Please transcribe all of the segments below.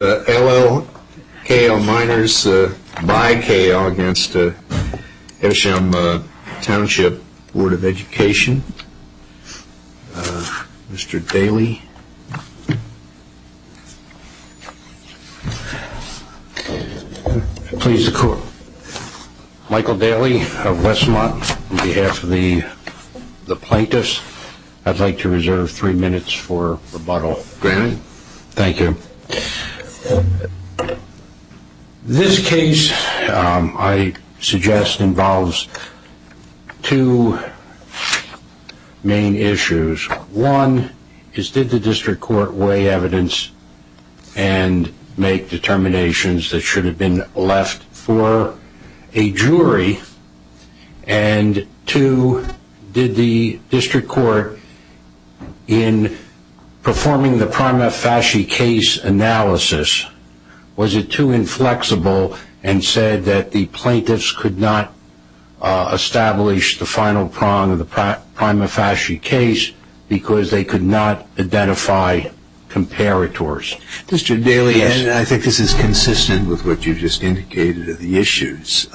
L.L. K.L. Miners by K.L. against Evesham Township Board of Education. Mr. Daly. Please record. Michael Daly of Westmont on behalf of the plaintiffs. I'd like to reserve three minutes for rebuttal. Thank you. This case I suggest involves two main issues. One is did the district court weigh evidence and make determinations that should have been left for a jury? And two, did the district court in performing the prima facie case analysis, was it too inflexible and said that the plaintiffs could not establish the final prong of the prima facie case because they could not identify comparators? Mr. Daly, I think this is consistent with what you just indicated of the issues.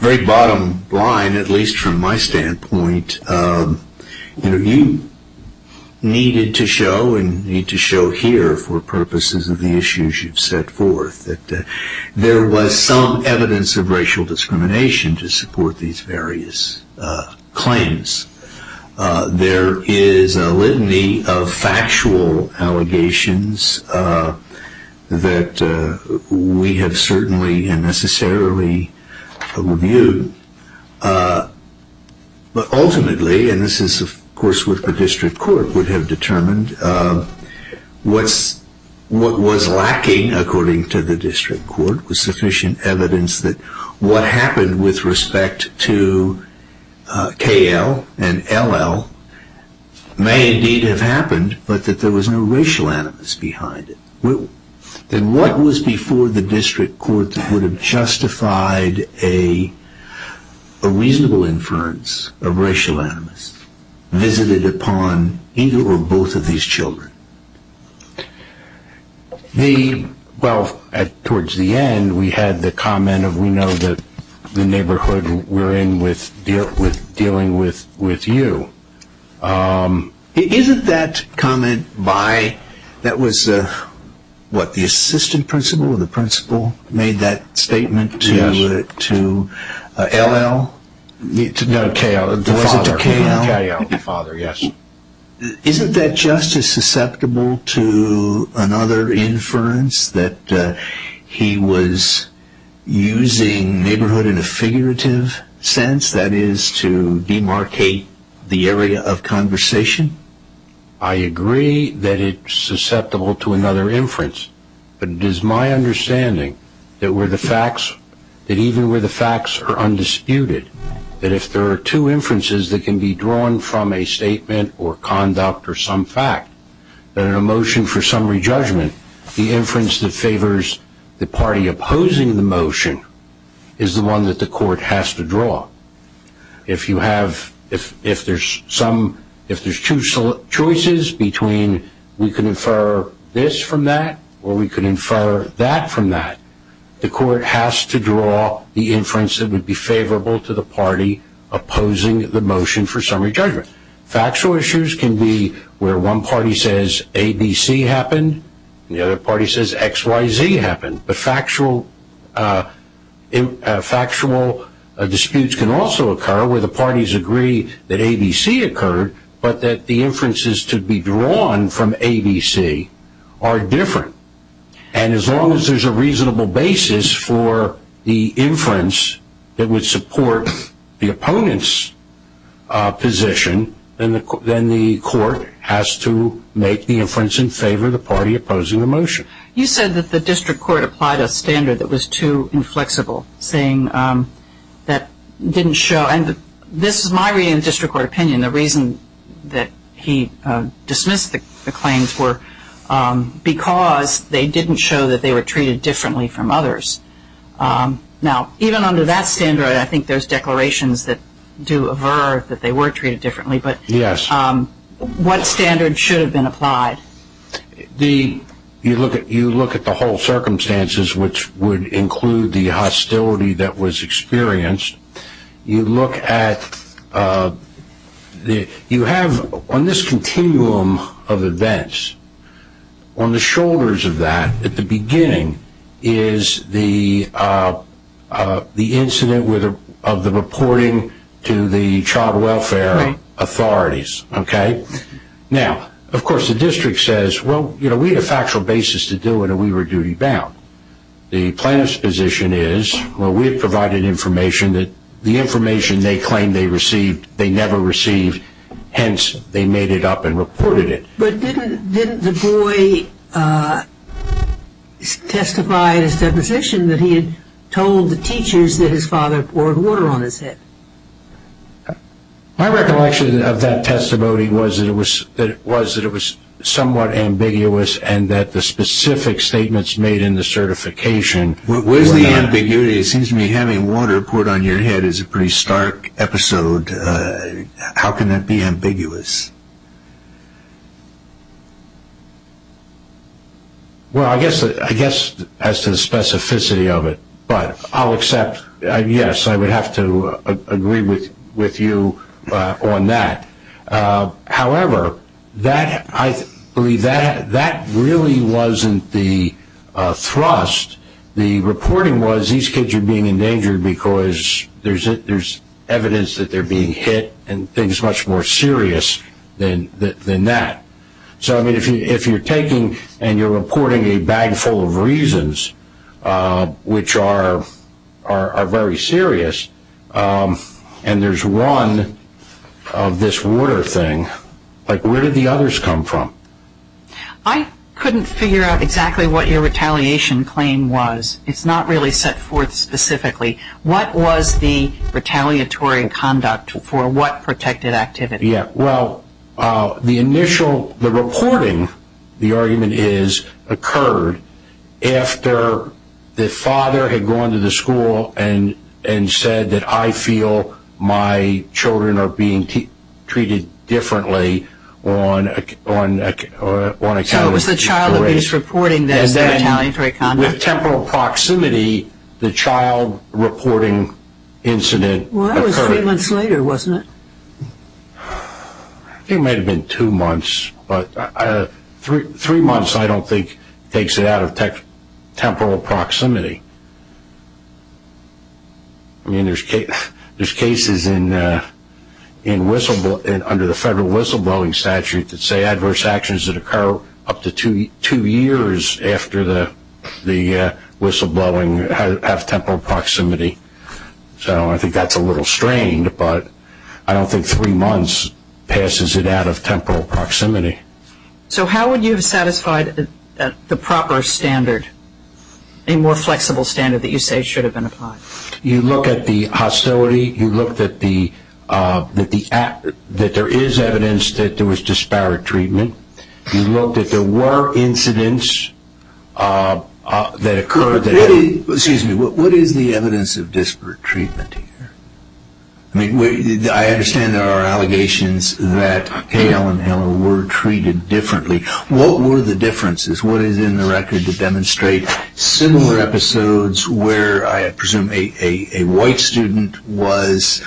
Very bottom line, at least from my standpoint, you needed to show and need to show here for purposes of the issues you've set forth that there was some evidence of racial discrimination to support these various claims. There is a litany of factual allegations that we have certainly and necessarily reviewed. But ultimately, and this is of course what the district court would have determined, what was lacking, according to the district court, was sufficient evidence that what happened with respect to K.L. and L.L. may indeed have happened, but that there was no racial animus behind it. Then what was before the district court that would have justified a reasonable inference of racial animus visited upon either or both of these children? Well, towards the end, we had the comment of we know that the neighborhood we're in was dealing with you. Isn't that comment by, that was what, the assistant principal or the principal made that statement to L.L.? No, K.L. Was it to K.L.? K.L., the father, yes. Isn't that just as susceptible to another inference that he was using neighborhood in a figurative sense, that is to demarcate the area of conversation? I agree that it's susceptible to another inference, but it is my understanding that even where the facts are undisputed, that if there are two inferences that can be drawn from a statement or conduct or some fact, that in a motion for summary judgment, the inference that favors the party opposing the motion is the one that the court has to draw. If you have, if there's two choices between we can infer this from that or we can infer that from that, the court has to draw the inference that would be favorable to the party opposing the motion for summary judgment. Factual issues can be where one party says ABC happened and the other party says XYZ happened, but factual disputes can also occur where the parties agree that ABC occurred, but that the inferences to be drawn from ABC are different. And as long as there's a reasonable basis for the inference that would support the opponent's position, then the court has to make the inference in favor of the party opposing the motion. You said that the district court applied a standard that was too inflexible, saying that didn't show, and this is my reading of the district court opinion, the reason that he dismissed the claims were because they didn't show that they were treated differently from others. Now, even under that standard, I think there's declarations that do aver that they were treated differently, but what standard should have been applied? You look at the whole circumstances, which would include the hostility that was experienced. You look at, you have on this continuum of events, on the shoulders of that, at the beginning, is the incident of the reporting to the child welfare authorities. Now, of course, the district says, well, we had a factual basis to do it and we were duty bound. The plaintiff's position is, well, we have provided information that the information they claim they received, they never received, hence they made it up and reported it. But didn't the boy testify in his deposition that he had told the teachers that his father poured water on his head? My recollection of that testimony was that it was somewhat ambiguous and that the specific statements made in the certification were not. Where's the ambiguity? It seems to me having water poured on your head is a pretty stark episode. How can that be ambiguous? Well, I guess as to the specificity of it, but I'll accept, yes, I would have to agree with you on that. However, I believe that really wasn't the thrust. The reporting was these kids are being endangered because there's evidence that they're being hit and things much more serious than that. So, I mean, if you're taking and you're reporting a bag full of reasons which are very serious and there's one of this water thing, like where did the others come from? I couldn't figure out exactly what your retaliation claim was. It's not really set forth specifically. What was the retaliatory conduct for what protected activity? Well, the initial, the reporting, the argument is, occurred after the father had gone to the school and said that I feel my children are being treated differently on a calendar. So it was the child abuse reporting that retaliatory conduct? With temporal proximity, the child reporting incident occurred. Well, that was three months later, wasn't it? It might have been two months, but three months I don't think takes it out of temporal proximity. I mean, there's cases under the federal whistleblowing statute that say adverse actions that occur up to two years after the whistleblowing have temporal proximity. So I think that's a little strained, but I don't think three months passes it out of temporal proximity. So how would you have satisfied the proper standard, a more flexible standard that you say should have been applied? You look at the hostility. You look that there is evidence that there was disparate treatment. You look that there were incidents that occurred. Excuse me. What is the evidence of disparate treatment here? I mean, I understand there are allegations that Hale and Heller were treated differently. What were the differences? What is in the record to demonstrate similar episodes where, I presume, a white student was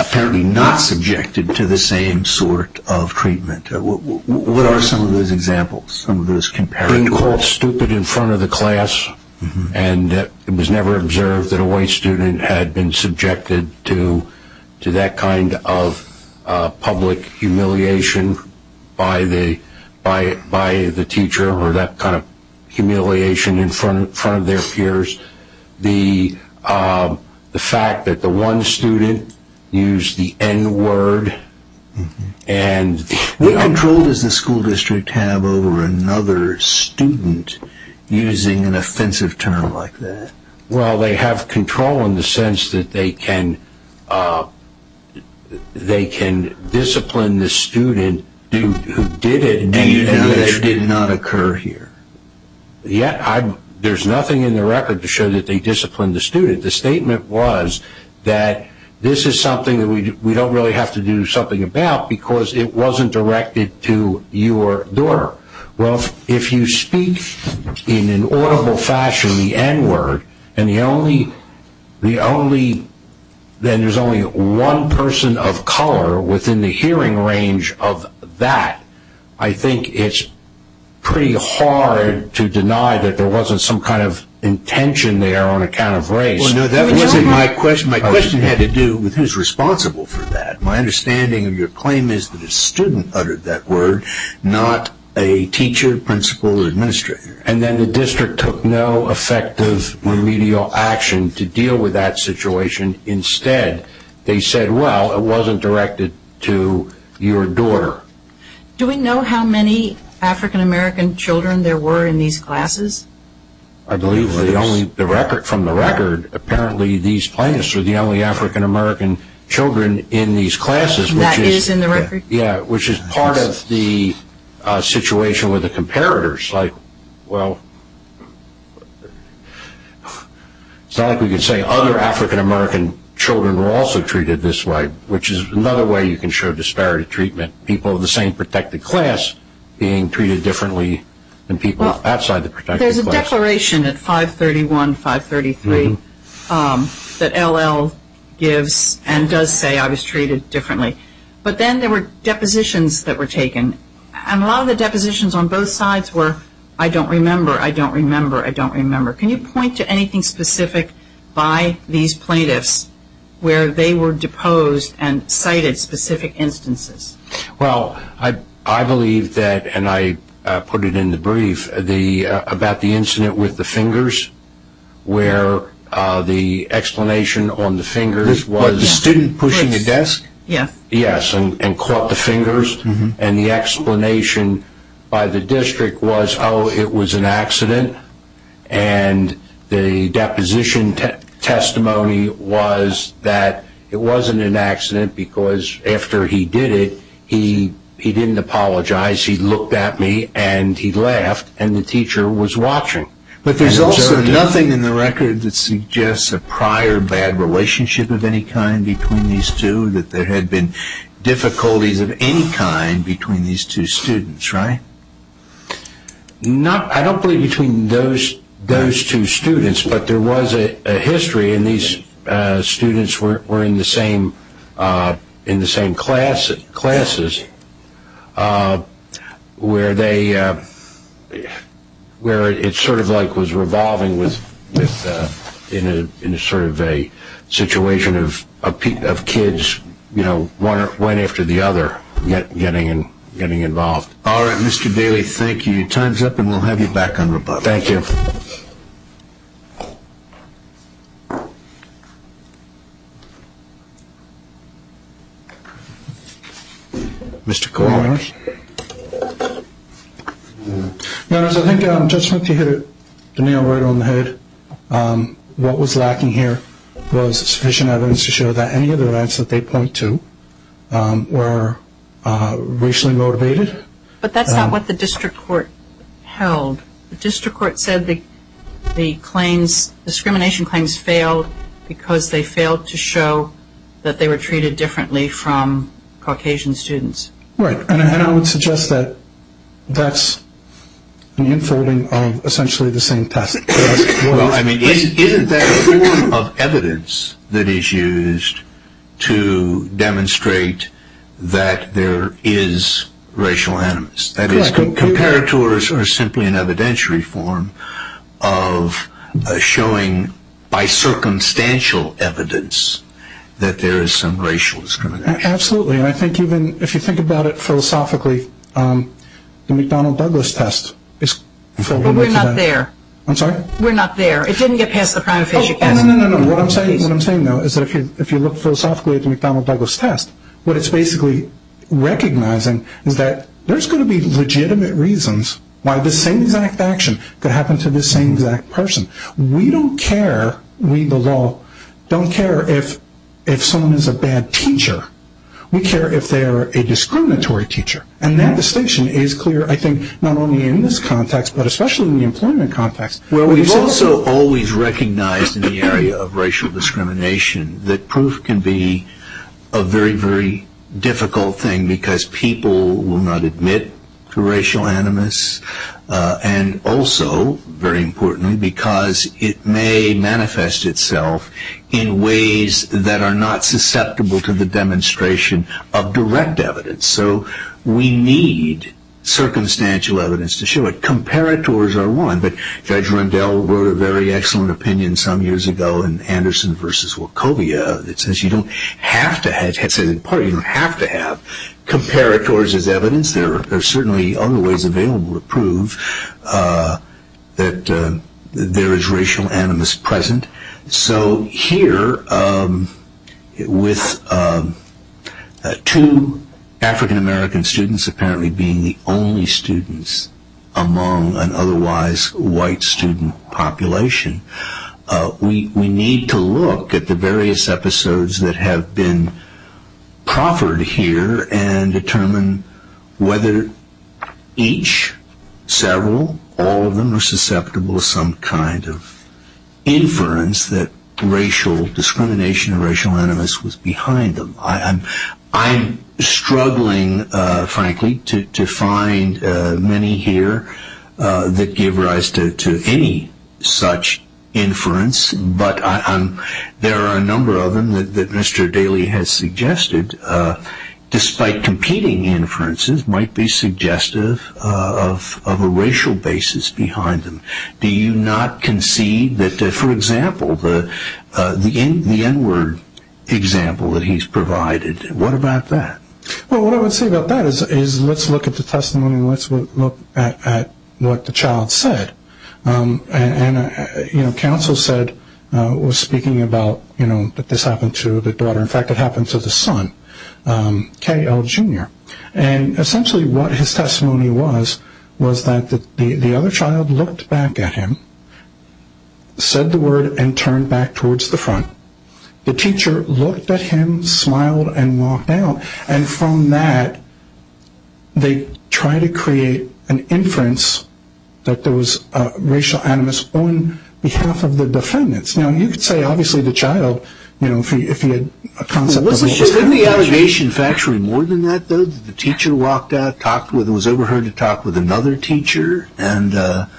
apparently not subjected to the same sort of treatment? What are some of those examples, some of those comparisons? Being called stupid in front of the class and it was never observed that a white student had been subjected to that kind of public humiliation by the teacher or that kind of humiliation in front of their peers. The fact that the one student used the N-word. What control does the school district have over another student using an offensive term like that? Well, they have control in the sense that they can discipline the student who did it. Do you know that it did not occur here? Yet, there is nothing in the record to show that they disciplined the student. The statement was that this is something that we don't really have to do something about because it wasn't directed to your daughter. Well, if you speak in an audible fashion the N-word, and there is only one person of color within the hearing range of that, I think it's pretty hard to deny that there wasn't some kind of intention there on account of race. Well, no, that wasn't my question. My question had to do with who is responsible for that. My understanding of your claim is that a student uttered that word, not a teacher, principal, or administrator. And then the district took no effective remedial action to deal with that situation. Instead, they said, well, it wasn't directed to your daughter. Do we know how many African-American children there were in these classes? I believe from the record, apparently these plaintiffs are the only African-American children in these classes. That is in the record? Yeah, which is part of the situation with the comparators. Like, well, it's not like we can say other African-American children were also treated this way, which is another way you can show disparity treatment, people of the same protected class being treated differently than people outside the protected class. There's a declaration at 531, 533 that L.L. gives and does say I was treated differently. But then there were depositions that were taken. And a lot of the depositions on both sides were I don't remember, I don't remember, I don't remember. Can you point to anything specific by these plaintiffs where they were deposed and cited specific instances? Well, I believe that, and I put it in the brief, about the incident with the fingers, where the explanation on the fingers was the student pushing the desk? Yes. Yes, and caught the fingers. And the explanation by the district was, oh, it was an accident, and the deposition testimony was that it wasn't an accident because after he did it, he didn't apologize. He looked at me, and he laughed, and the teacher was watching. But there's also nothing in the record that suggests a prior bad relationship of any kind between these two, that there had been difficulties of any kind between these two students, right? I don't believe between those two students, but there was a history, and these students were in the same classes, where it sort of like was revolving in sort of a situation of kids, you know, one after the other, getting involved. All right, Mr. Daly, thank you. Your time's up, and we'll have you back on rebuttal. Thank you. Mr. Cohen. Your Honor, I think Judge Smith, you hit it, you nailed it right on the head. What was lacking here was sufficient evidence to show that any of the events that they point to were racially motivated. But that's not what the district court held. The district court said the claims, discrimination claims, failed because they failed to show that they were treated differently from Caucasian students. Right, and I would suggest that that's an inferring of essentially the same test. Well, I mean, isn't that a form of evidence that is used to demonstrate that there is racial animus? That is, compared to or simply an evidentiary form of showing, by circumstantial evidence, that there is some racial discrimination. Absolutely, and I think even if you think about it philosophically, the McDonnell-Douglas test is… But we're not there. I'm sorry? We're not there. It didn't get past the prima facie test. Oh, no, no, no, no. What I'm saying, though, is that if you look philosophically at the McDonnell-Douglas test, what it's basically recognizing is that there's going to be legitimate reasons why the same exact action could happen to the same exact person. We don't care, we the law, don't care if someone is a bad teacher. We care if they're a discriminatory teacher. And that distinction is clear, I think, not only in this context, but especially in the employment context. Well, we've also always recognized in the area of racial discrimination that proof can be a very, very difficult thing because people will not admit to racial animus, and also, very importantly, because it may manifest itself in ways that are not susceptible to the demonstration of direct evidence. So we need circumstantial evidence to show it. Comparators are one, but Judge Rundell wrote a very excellent opinion some years ago in Anderson v. Wachovia that says you don't have to have, it says in part you don't have to have comparators as evidence. There are certainly other ways available to prove that there is racial animus present. So here, with two African-American students apparently being the only students among an otherwise white student population, we need to look at the various episodes that have been proffered here and determine whether each, several, all of them are susceptible to some kind of inference that racial discrimination or racial animus was behind them. I'm struggling, frankly, to find many here that give rise to any such inference, but there are a number of them that Mr. Daly has suggested, despite competing inferences, might be suggestive of a racial basis behind them. Do you not concede that, for example, the N-word example that he's provided, what about that? Well, what I would say about that is let's look at the testimony and let's look at what the child said. And counsel said, was speaking about that this happened to the daughter. In fact, it happened to the son, K. L. Jr. And essentially what his testimony was, was that the other child looked back at him, said the word, and turned back towards the front. The teacher looked at him, smiled, and walked out. And from that, they try to create an inference that there was racial animus on behalf of the defendants. Now, you could say, obviously, the child, you know, if he had a concept of what was happening. Wasn't the allegation factually more than that, though, that the teacher walked out, was overheard to talk with another teacher, and that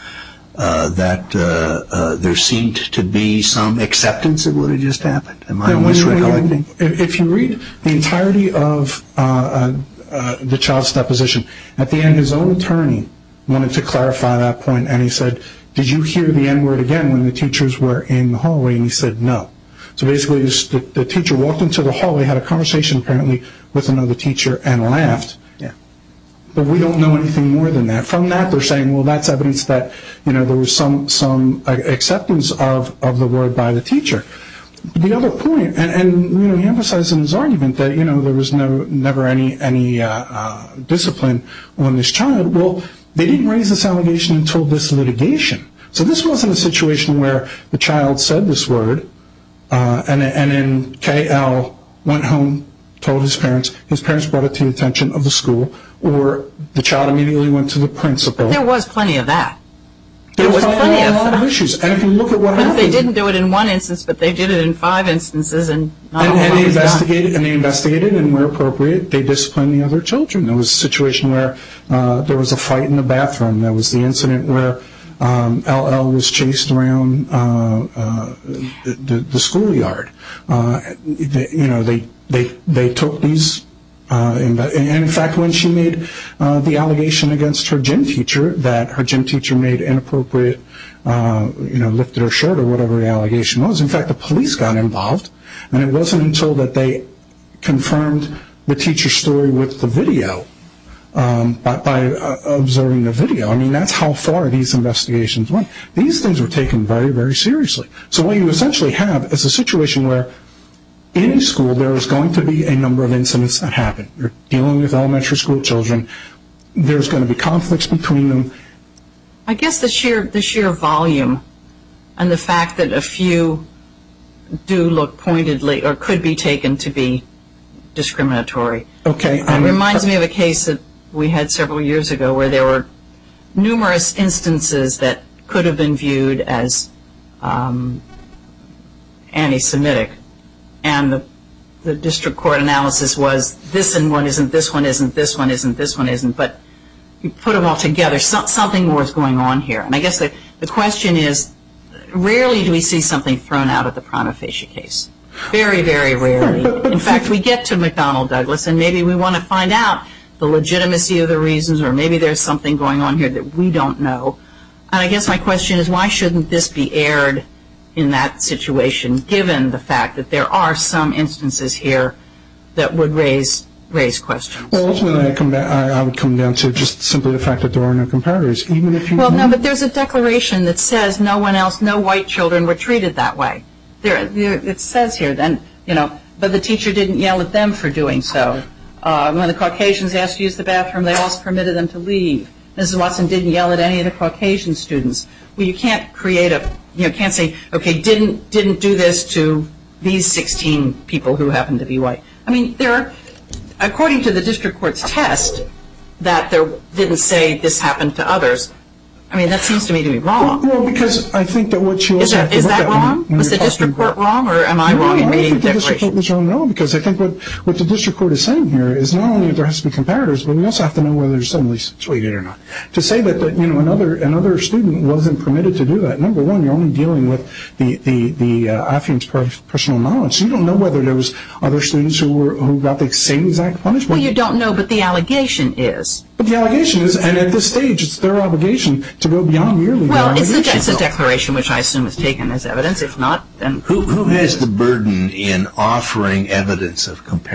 there seemed to be some acceptance of what had just happened? If you read the entirety of the child's deposition, at the end his own attorney wanted to clarify that point. And he said, did you hear the N-word again when the teachers were in the hallway? And he said, no. So basically, the teacher walked into the hallway, had a conversation apparently with another teacher, and laughed. But we don't know anything more than that. From that, they're saying, well, that's evidence that, you know, there was some acceptance of the word by the teacher. The other point, and, you know, he emphasized in his argument that, you know, there was never any discipline on this child. Well, they didn't raise this allegation until this litigation. So this wasn't a situation where the child said this word, and then K.L. went home, told his parents. His parents brought it to the attention of the school, or the child immediately went to the principal. There was plenty of that. There was plenty of that. There were a lot of issues. And if you look at what happened. They didn't do it in one instance, but they did it in five instances. And they investigated. And they investigated. And where appropriate, they disciplined the other children. There was a situation where there was a fight in the bathroom. There was the incident where L.L. was chased around the schoolyard. You know, they took these. And, in fact, when she made the allegation against her gym teacher, that her gym teacher made inappropriate, you know, lifted her shirt or whatever the allegation was, in fact, the police got involved. And it wasn't until that they confirmed the teacher's story with the video, by observing the video. I mean, that's how far these investigations went. These things were taken very, very seriously. So what you essentially have is a situation where, in a school, there is going to be a number of incidents that happen. You're dealing with elementary school children. There's going to be conflicts between them. I guess the sheer volume and the fact that a few do look pointedly or could be taken to be discriminatory reminds me of a case that we had several years ago where there were numerous instances that could have been viewed as anti-Semitic. And the district court analysis was, this one isn't, this one isn't, this one isn't, this one isn't. But you put them all together, something more is going on here. And I guess the question is, rarely do we see something thrown out at the prima facie case. Very, very rarely. In fact, we get to McDonnell Douglas, and maybe we want to find out the legitimacy of the reasons, or maybe there's something going on here that we don't know. And I guess my question is, why shouldn't this be aired in that situation, given the fact that there are some instances here that would raise questions? Well, ultimately, I would come down to just simply the fact that there are no comparators. Well, no, but there's a declaration that says no one else, no white children were treated that way. It says here, but the teacher didn't yell at them for doing so. When the Caucasians asked to use the bathroom, they also permitted them to leave. Mrs. Watson didn't yell at any of the Caucasian students. Well, you can't create a, you can't say, okay, didn't do this to these 16 people who happen to be white. I mean, there are, according to the district court's test, that didn't say this happened to others. I mean, that seems to me to be wrong. Well, because I think that what you also have to look at. Is that wrong? Was the district court wrong, or am I wrong in reading the declaration? No, I think the district court was wrong at all, because I think what the district court is saying here is not only that there has to be comparators, but we also have to know whether somebody is treated or not. To say that, you know, another student wasn't permitted to do that, number one, you're only dealing with the AFIIM's personal knowledge. You don't know whether there was other students who got the same exact punishment. Well, you don't know, but the allegation is. But the allegation is, and at this stage, it's their obligation to go beyond merely the allegation. Well, it's a declaration which I assume is taken as evidence. If not, then... Who has the burden in offering evidence of comparators?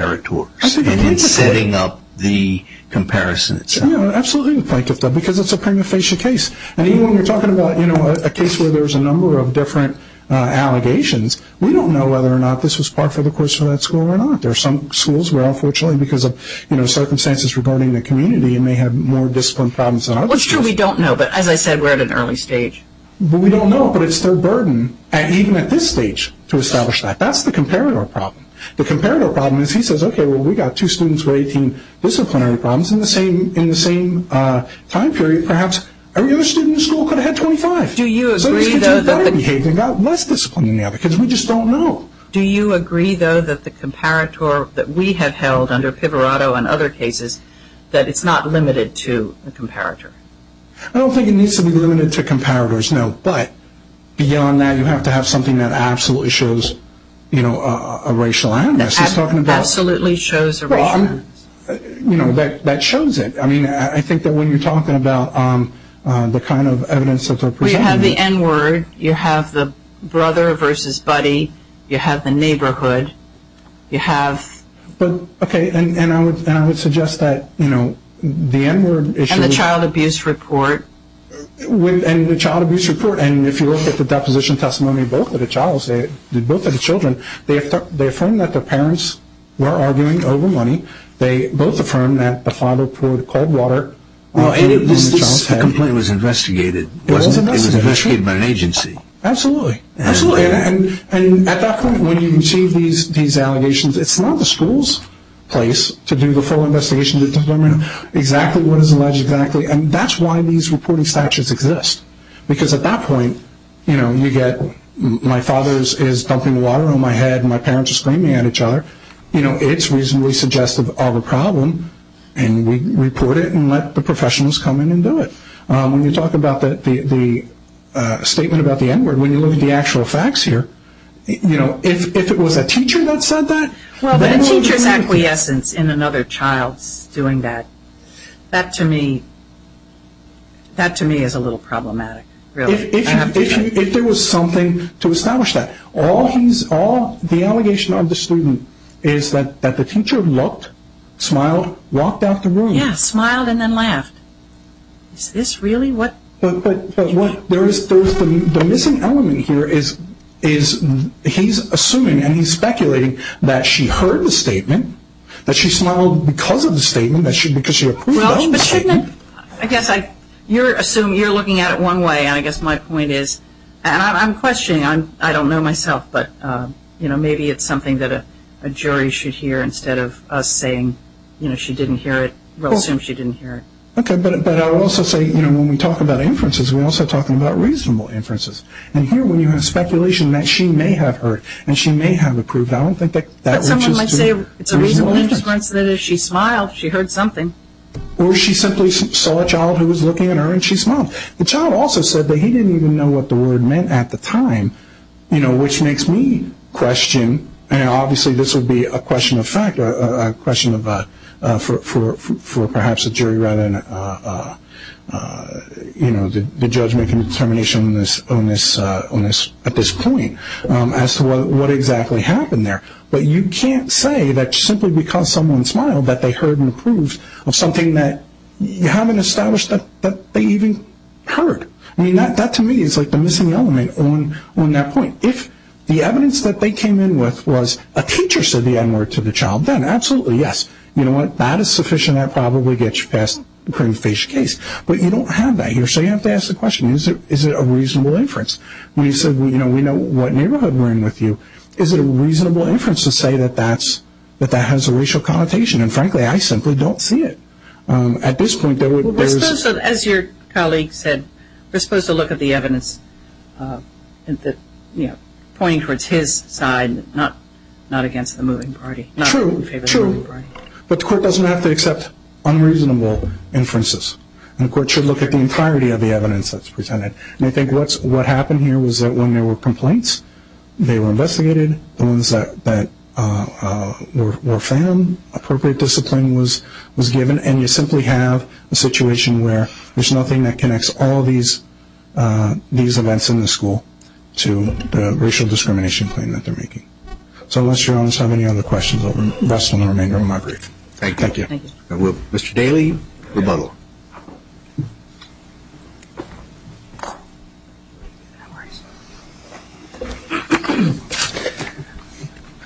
And in setting up the comparison itself. Absolutely, because it's a prima facie case. And even when we're talking about, you know, a case where there's a number of different allegations, we don't know whether or not this was part of the course for that school or not. There are some schools where, unfortunately, because of, you know, circumstances regarding the community, it may have more discipline problems than others. Well, it's true we don't know, but as I said, we're at an early stage. Well, we don't know, but it's their burden, even at this stage, to establish that. That's the comparator problem. The comparator problem is he says, okay, well, we've got two students with 18 disciplinary problems. In the same time period, perhaps every other student in the school could have had 25. Do you agree, though, that the... So this could be better behaved and got less discipline than the other kids. We just don't know. Do you agree, though, that the comparator that we have held under Pivarotto and other cases, that it's not limited to the comparator? I don't think it needs to be limited to comparators, no. But beyond that, you have to have something that absolutely shows, you know, a racial... Absolutely shows a racial... You know, that shows it. I mean, I think that when you're talking about the kind of evidence that they're presenting... You have the N-word. You have the brother versus buddy. You have the neighborhood. You have... But, okay, and I would suggest that, you know, the N-word... And the child abuse report. And the child abuse report. And if you look at the deposition testimony of both of the children, they affirmed that their parents were arguing over money. They both affirmed that the father poured cold water on the child's head. The complaint was investigated. It was investigated. It was investigated by an agency. Absolutely. Absolutely. And at that point, when you receive these allegations, it's not the school's place to do the full investigation to determine exactly what is alleged exactly. And that's why these reporting statutes exist. Because at that point, you know, you get my father is dumping water on my head and my parents are screaming at each other. You know, it's reasonably suggestive of a problem, and we report it and let the professionals come in and do it. When you talk about the statement about the N-word, when you look at the actual facts here, you know, if it was a teacher that said that... Well, the teacher's acquiescence in another child's doing that, that to me is a little problematic, really. If there was something to establish that. The allegation of the student is that the teacher looked, smiled, walked out the room. Yeah, smiled and then laughed. Is this really what... But the missing element here is he's assuming and he's speculating that she heard the statement, that she smiled because of the statement, because she approved of the statement. Well, but shouldn't... I guess you're assuming, you're looking at it one way, and I guess my point is... And I'm questioning, I don't know myself, but maybe it's something that a jury should hear instead of us saying she didn't hear it. We'll assume she didn't hear it. Okay, but I would also say, you know, when we talk about inferences, we're also talking about reasonable inferences. And here when you have speculation that she may have heard and she may have approved, I don't think that... But someone might say it's a reasonable inference that if she smiled, she heard something. Or she simply saw a child who was looking at her and she smiled. The child also said that he didn't even know what the word meant at the time, you know, which makes me question, and obviously this would be a question of fact, a question for perhaps a jury rather than, you know, the judgment and determination on this at this point as to what exactly happened there. But you can't say that simply because someone smiled that they heard and approved of something that you haven't established that they even heard. I mean, that to me is like the missing element on that point. If the evidence that they came in with was a teacher said the N-word to the child, then absolutely, yes, you know what, that is sufficient. That probably gets you past the cream of the face case. But you don't have that here, so you have to ask the question, is it a reasonable inference? When you say, you know, we know what neighborhood we're in with you, is it a reasonable inference to say that that has a racial connotation? And, frankly, I simply don't see it. At this point, there's – Well, we're supposed to, as your colleague said, we're supposed to look at the evidence, you know, pointing towards his side, not against the moving party. True, true. But the court doesn't have to accept unreasonable inferences. The court should look at the entirety of the evidence that's presented. And I think what happened here was that when there were complaints, they were investigated. The ones that were found, appropriate discipline was given, and you simply have a situation where there's nothing that connects all these events in the school to the racial discrimination claim that they're making. So unless you all just have any other questions, I'll rest on the remainder of my brief. Thank you. Mr. Daly, rebuttal. No worries. I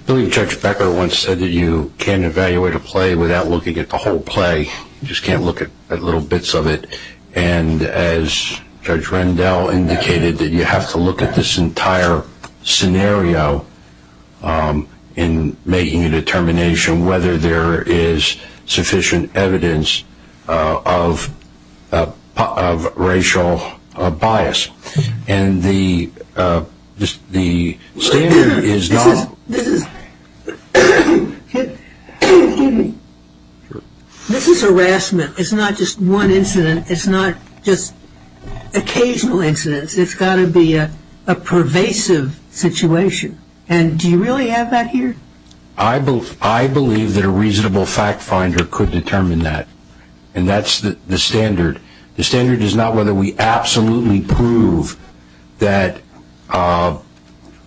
believe Judge Becker once said that you can't evaluate a play without looking at the whole play. You just can't look at little bits of it. And as Judge Rendell indicated, that you have to look at this entire scenario in making a determination whether there is sufficient evidence of racial bias. And the standard is not. This is harassment. It's not just one incident. It's not just occasional incidents. It's got to be a pervasive situation. And do you really have that here? I believe that a reasonable fact finder could determine that. And that's the standard. The standard is not whether we absolutely prove that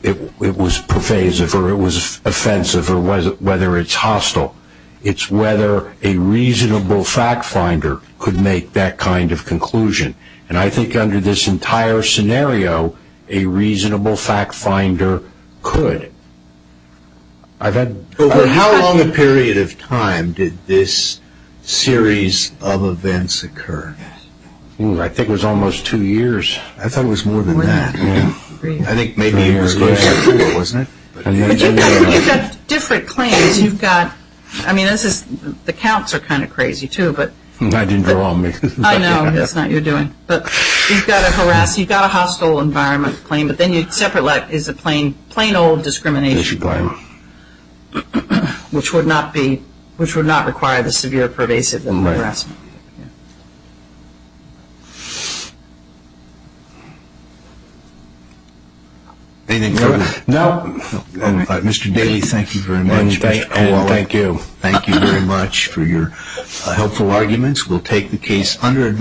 it was pervasive or it was offensive or whether it's hostile. It's whether a reasonable fact finder could make that kind of conclusion. And I think under this entire scenario, a reasonable fact finder could. How long a period of time did this series of events occur? I think it was almost two years. I thought it was more than that. I think maybe it was two years. You've got different claims. You've got, I mean, the counts are kind of crazy too. I didn't draw them. I know. It's not your doing. But you've got to harass. You've got a hostile environment claim. But then you separate is a plain old discrimination claim, which would not require the severe pervasive harassment. Anything further? No. Mr. Daly, thank you very much. And thank you. Thank you very much for your helpful arguments. We'll take the case under advice.